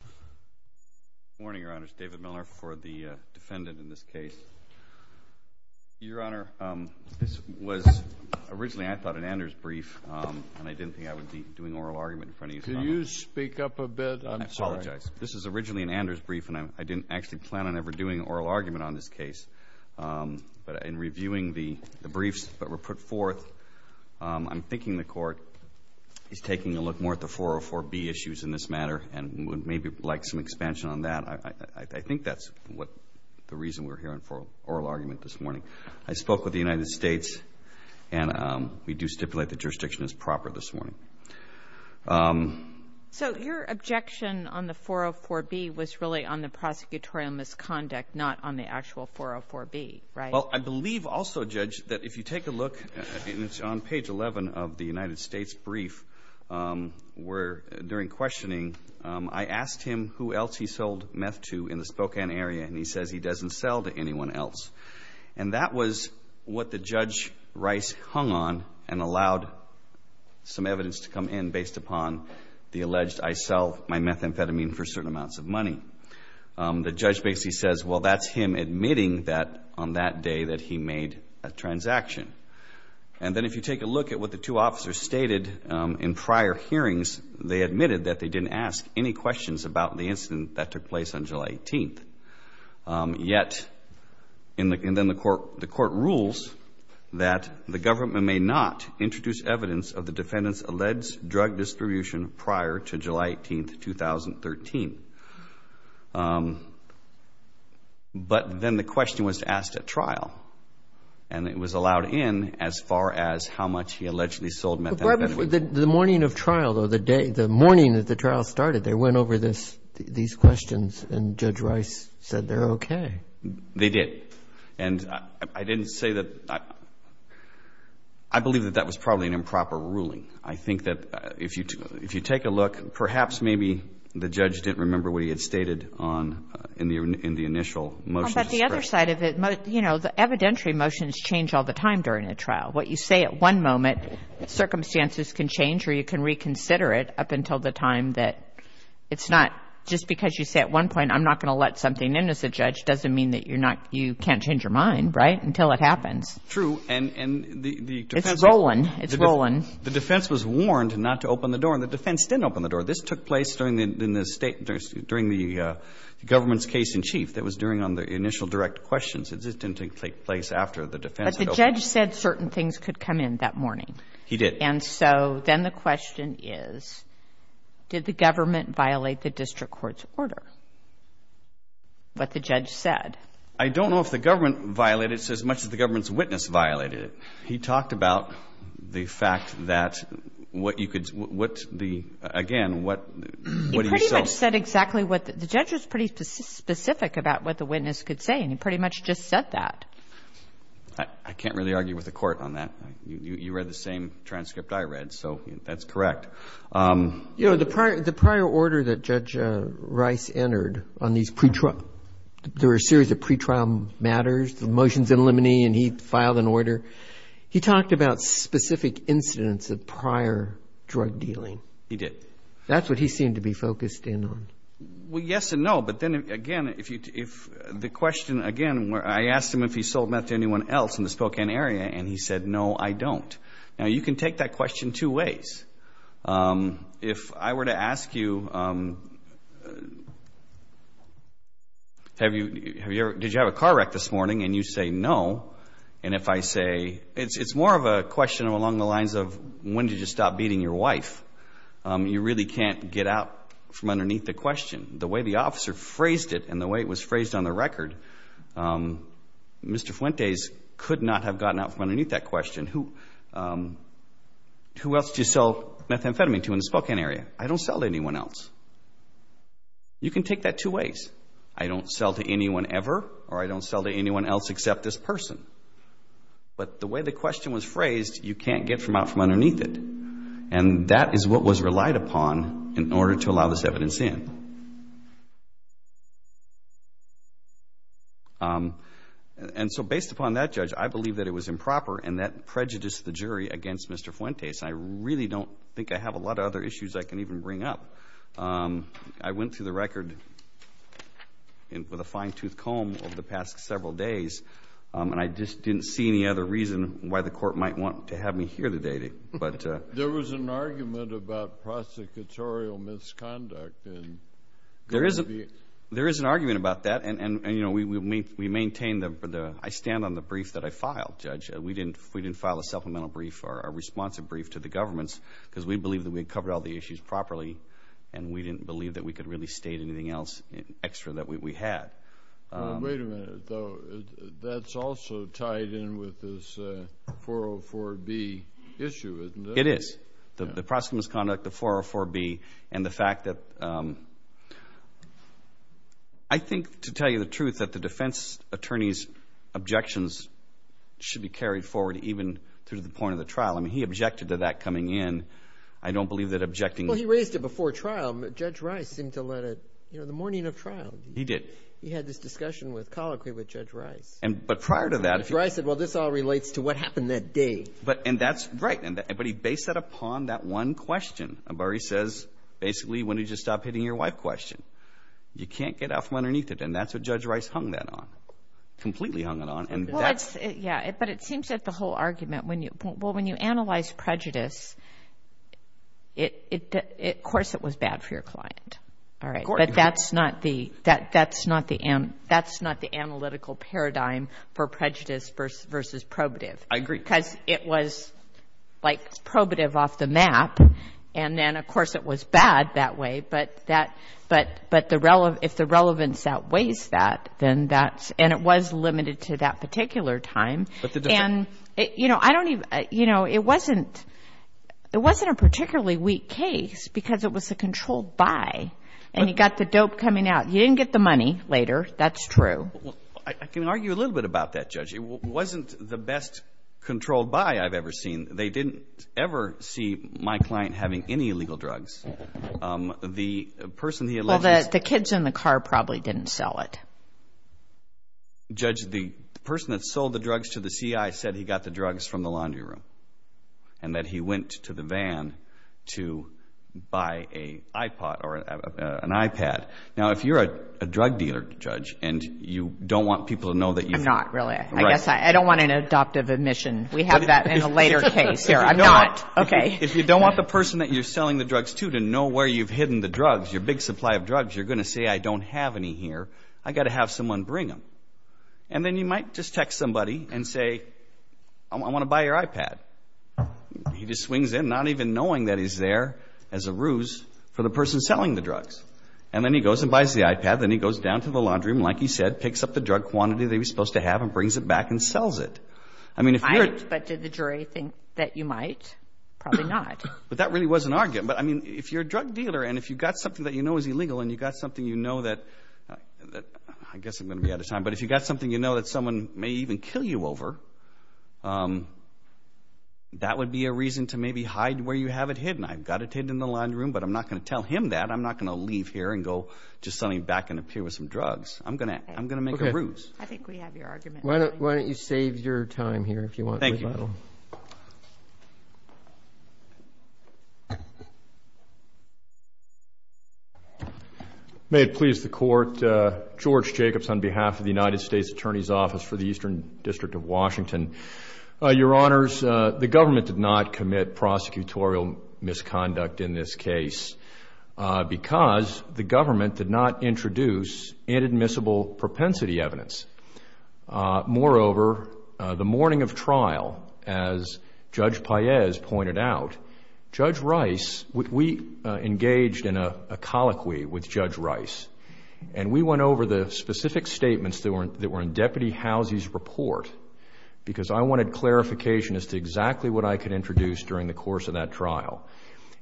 Good morning, Your Honors. David Miller for the defendant in this case. Your Honor, this was originally, I thought, an Anders brief, and I didn't think I would be doing oral argument in front of you tonight. Can you speak up a bit? I'm sorry. I apologize. This was originally an Anders brief, and I didn't actually plan on ever doing oral argument on this case. But in reviewing the briefs that were put forth, I'm thinking the Court is taking a look more at the 404B issues in this matter and would maybe like some expansion on that. I think that's the reason we're hearing for oral argument this morning. I spoke with the United States, and we do stipulate that jurisdiction is proper this morning. So your objection on the 404B was really on the prosecutorial misconduct, not on the actual 404B, right? Well, I believe also, Judge, that if you take a look, it's on page 11 of the United States brief where, during questioning, I asked him who else he sold meth to in the Spokane area, and he says he doesn't sell to anyone else. And that was what the Judge Rice hung on and allowed some evidence to come in based upon the alleged I sell my methamphetamine for certain amounts of money. The Judge basically says, well, that's him admitting that on that day that he made a transaction. And then if you take a look at what the two officers stated in prior hearings, they admitted that they didn't ask any questions about the incident that took place on July 18th. Yet, and then the Court rules that the government may not introduce evidence of the defendant's alleged drug distribution prior to July 18th, 2013. But then the question was asked at trial, and it was allowed in as far as how much he allegedly sold methamphetamine. The morning of trial, though, the morning that the trial started, they went over these questions, and Judge Rice said they're okay. They did. And I didn't say that – I believe that that was probably an improper ruling. I think that if you take a look, perhaps maybe the Judge didn't remember what he had stated in the initial motion. But the other side of it, you know, the evidentiary motions change all the time during a trial. What you say at one moment, circumstances can change or you can reconsider it up until the time that it's not – just because you say at one point I'm not going to let something in as a judge doesn't mean that you can't change your mind, right, until it happens. True. It's rolling. It's rolling. The defense was warned not to open the door, and the defense didn't open the door. This took place during the state – during the government's case in chief. That was during – on the initial direct questions. This didn't take place after the defense had opened. But the judge said certain things could come in that morning. He did. And so then the question is, did the government violate the district court's order, what the judge said? I don't know if the government violated it as much as the government's witness violated it. He talked about the fact that what you could – what the – again, what do you say? He pretty much said exactly what – the judge was pretty specific about what the witness could say, and he pretty much just said that. I can't really argue with the court on that. You read the same transcript I read, so that's correct. You know, the prior order that Judge Rice entered on these pretrial – there were a series of pretrial matters, the motions in limine, and he filed an order. He talked about specific incidents of prior drug dealing. He did. That's what he seemed to be focused in on. Well, yes and no. But then, again, if the question – again, I asked him if he sold meth to anyone else in the Spokane area, and he said, no, I don't. Now, you can take that question two ways. If I were to ask you, did you have a car wreck this morning, and you say no, and if I say – it's more of a question along the lines of when did you stop beating your wife. You really can't get out from underneath the question. The way the officer phrased it and the way it was phrased on the record, Mr. Fuentes could not have gotten out from underneath that question. Who else do you sell methamphetamine to in the Spokane area? I don't sell to anyone else. You can take that two ways. I don't sell to anyone ever, or I don't sell to anyone else except this person. But the way the question was phrased, you can't get out from underneath it, and that is what was relied upon in order to allow this evidence in. And so based upon that, Judge, I believe that it was improper, and that prejudiced the jury against Mr. Fuentes. I really don't think I have a lot of other issues I can even bring up. I went through the record with a fine-tooth comb over the past several days, and I just didn't see any other reason why the Court might want to have me hear the data. There was an argument about prosecutorial misconduct. There is an argument about that, and, you know, we maintain the – I stand on the brief that I filed, Judge. We didn't file a supplemental brief or a responsive brief to the governments because we believed that we had covered all the issues properly, and we didn't believe that we could really state anything else extra that we had. Wait a minute, though. That's also tied in with this 404B issue, isn't it? It is. The prosecutorial misconduct, the 404B, and the fact that – I think, to tell you the truth, that the defense attorney's objections should be carried forward even through the point of the trial. I mean, he objected to that coming in. I don't believe that objecting – Well, he raised it before trial. Judge Rice seemed to let it – you know, the morning of trial. He did. He had this discussion with – colloquy with Judge Rice. But prior to that – Judge Rice said, well, this all relates to what happened that day. And that's – right. But he based that upon that one question where he says, basically, when did you stop hitting your wife question? You can't get out from underneath it, and that's what Judge Rice hung that on, completely hung it on. Well, it's – yeah, but it seems that the whole argument when you – well, when you analyze prejudice, of course it was bad for your client. All right. But that's not the – that's not the – that's not the analytical paradigm for prejudice versus probative. I agree. Because it was, like, probative off the map, and then, of course, it was bad that way. But that – but the – if the relevance outweighs that, then that's – and it was limited to that particular time. But the – And, you know, I don't even – you know, it wasn't – it wasn't a particularly weak case because it was a controlled buy, and you got the dope coming out. You didn't get the money later. That's true. Well, I can argue a little bit about that, Judge. It wasn't the best controlled buy I've ever seen. They didn't ever see my client having any illegal drugs. The person he allegedly – Well, the kids in the car probably didn't sell it. Judge, the person that sold the drugs to the CI said he got the drugs from the laundry room, and that he went to the van to buy an iPod or an iPad. Now, if you're a drug dealer, Judge, and you don't want people to know that you've – I'm not, really. Right. I guess I don't want an adoptive admission. We have that in a later case here. I'm not. Okay. If you don't want the person that you're selling the drugs to to know where you've hidden the drugs, your big supply of drugs, you're going to say, I don't have any here. I've got to have someone bring them. And then you might just text somebody and say, I want to buy your iPad. He just swings in not even knowing that he's there as a ruse for the person selling the drugs. And then he goes and buys the iPad. Then he goes down to the laundry room, like he said, picks up the drug quantity that he was supposed to have and brings it back and sells it. I mean, if you're – But did the jury think that you might? Probably not. But that really was an argument. But, I mean, if you're a drug dealer and if you've got something that you know is illegal and you've got something you know that – I guess I'm going to be out of time. But if you've got something you know that someone may even kill you over, that would be a reason to maybe hide where you have it hidden. I've got it hidden in the laundry room, but I'm not going to tell him that. I'm not going to leave here and go just suddenly back and appear with some drugs. I'm going to make a ruse. Okay. I think we have your argument. Why don't you save your time here if you want. Thank you. May it please the Court, George Jacobs on behalf of the United States Attorney's Office for the Eastern District of Washington. Your Honors, the government did not commit prosecutorial misconduct in this case because the government did not introduce inadmissible propensity evidence. Moreover, the morning of trial, as Judge Paez pointed out, Judge Rice – we engaged in a colloquy with Judge Rice, and we went over the specific statements that were in Deputy Housie's report because I wanted clarification as to exactly what I could introduce during the course of that trial.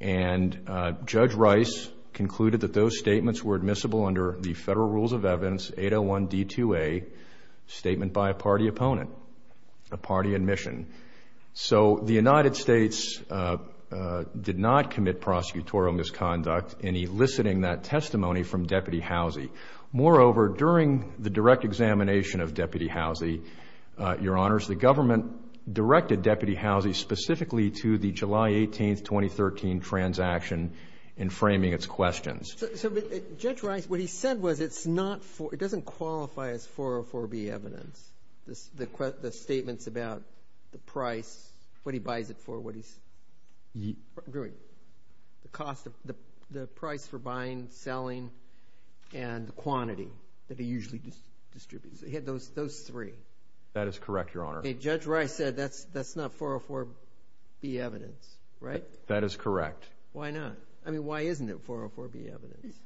And Judge Rice concluded that those statements were admissible under the Federal Rules of Evidence 801D2A, statement by a party opponent, a party admission. So the United States did not commit prosecutorial misconduct in eliciting that testimony from Deputy Housie. Moreover, during the direct examination of Deputy Housie, Your Honors, the government directed Deputy Housie specifically to the July 18, 2013, transaction in framing its questions. So Judge Rice, what he said was it's not – it doesn't qualify as 404B evidence, the statements about the price, what he buys it for, what he's – the cost of – the price for buying, selling, and the quantity that he usually distributes. He had those three. That is correct, Your Honor. Okay. Judge Rice said that's not 404B evidence, right? That is correct. Why not? I mean, why isn't it 404B evidence?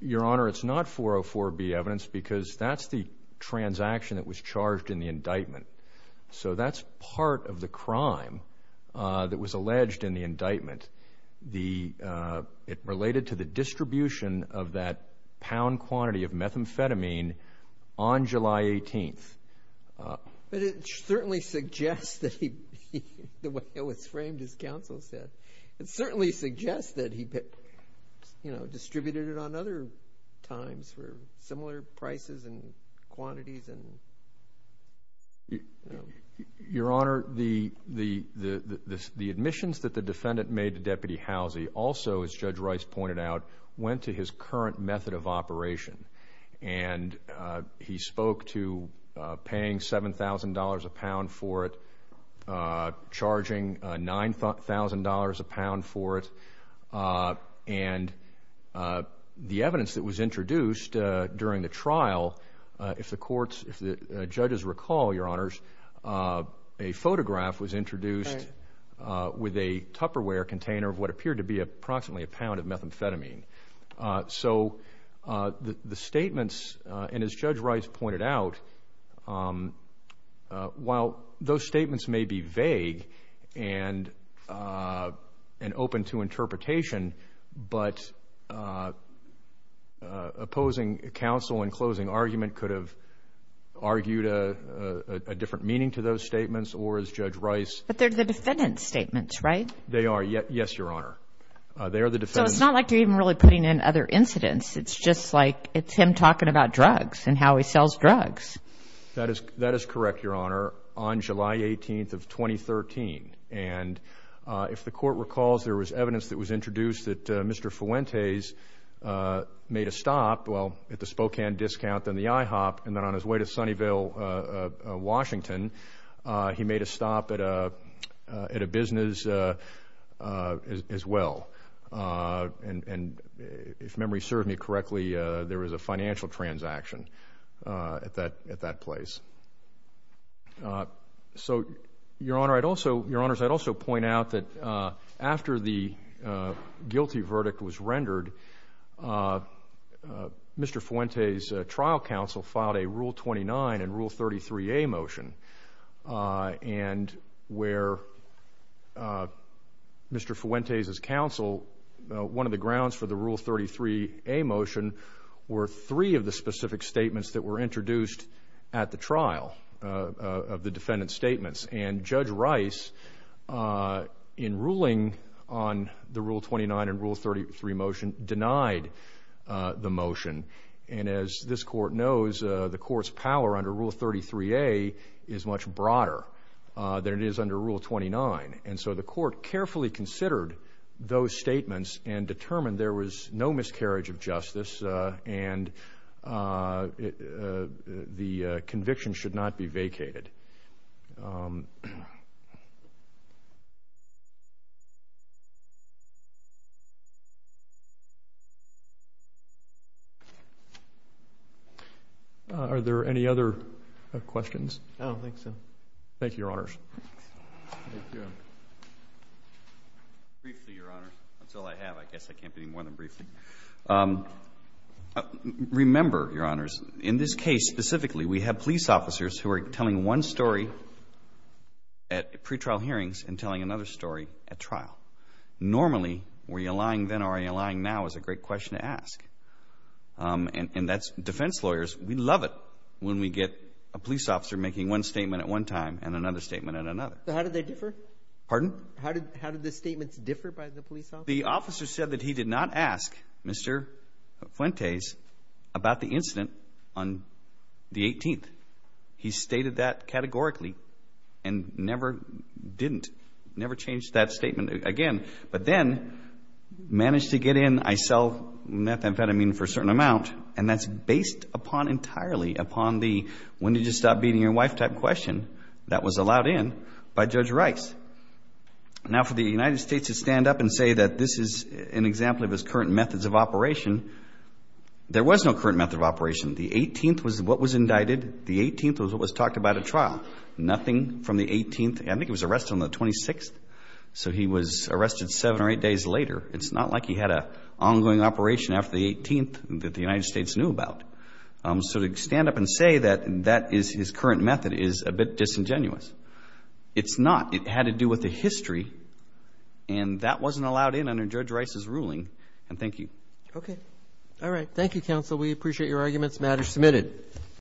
Your Honor, it's not 404B evidence because that's the transaction that was charged in the indictment. So that's part of the crime that was alleged in the indictment. It related to the distribution of that pound quantity of methamphetamine on July 18. But it certainly suggests that he – the way it was framed, as counsel said, it certainly suggests that he distributed it on other times for similar prices and quantities. Your Honor, the admissions that the defendant made to Deputy Housie also, as Judge Rice pointed out, went to his current method of operation. And he spoke to paying $7,000 a pound for it, charging $9,000 a pound for it. And the evidence that was introduced during the trial, if the courts, if the judges recall, Your Honors, a photograph was introduced with a Tupperware container of what appeared to be approximately a pound of methamphetamine. So the statements, and as Judge Rice pointed out, while those statements may be vague and open to interpretation, but opposing counsel in closing argument could have argued a different meaning to those statements, or as Judge Rice – But they're the defendant's statements, right? They are, yes, Your Honor. They are the defendant's – So it's not like you're even really putting in other incidents. It's just like it's him talking about drugs and how he sells drugs. That is correct, Your Honor, on July 18th of 2013. And if the court recalls, there was evidence that was introduced that Mr. Fuentes made a stop, well, at the Spokane discount, then the IHOP, and then on his way to Sunnyvale, Washington, he made a stop at a business as well. And if memory serves me correctly, there was a financial transaction at that place. So, Your Honor, I'd also – Your Honors, I'd also point out that after the guilty verdict was rendered, Mr. Fuentes' trial counsel filed a Rule 29 and Rule 33a motion, and where Mr. Fuentes' counsel – one of the grounds for the Rule 33a motion were three of the specific statements that were introduced at the trial of the defendant's statements. And Judge Rice, in ruling on the Rule 29 and Rule 33 motion, denied the motion. And as this court knows, the court's power under Rule 33a is much broader than it is under Rule 29. And so the court carefully considered those statements and determined there was no miscarriage of justice and the conviction should not be vacated. Are there any other questions? No, I think so. Thank you, Your Honors. Thank you. Briefly, Your Honors. That's all I have. I guess I can't do any more than briefly. Remember, Your Honors, in this case specifically, we have police officers who are telling one story at pretrial hearings and telling another story at trial. Normally, were you lying then or are you lying now is a great question to ask. And that's defense lawyers. We love it when we get a police officer making one statement at one time and another statement at another. How did they differ? Pardon? How did the statements differ by the police officer? The officer said that he did not ask Mr. Fuentes about the incident on the 18th. He stated that categorically and never didn't, never changed that statement again. But then managed to get in, I sell methamphetamine for a certain amount, and that's based upon entirely upon the when did you stop beating your wife type question that was allowed in by Judge Rice. Now, for the United States to stand up and say that this is an example of his current methods of operation, there was no current method of operation. The 18th was what was indicted. The 18th was what was talked about at trial. Nothing from the 18th. I think he was arrested on the 26th, so he was arrested seven or eight days later. It's not like he had an ongoing operation after the 18th that the United States knew about. So to stand up and say that that is his current method is a bit disingenuous. It's not. It had to do with the history, and that wasn't allowed in under Judge Rice's ruling. And thank you. Okay. All right. Thank you, counsel. We appreciate your arguments. The matter is submitted.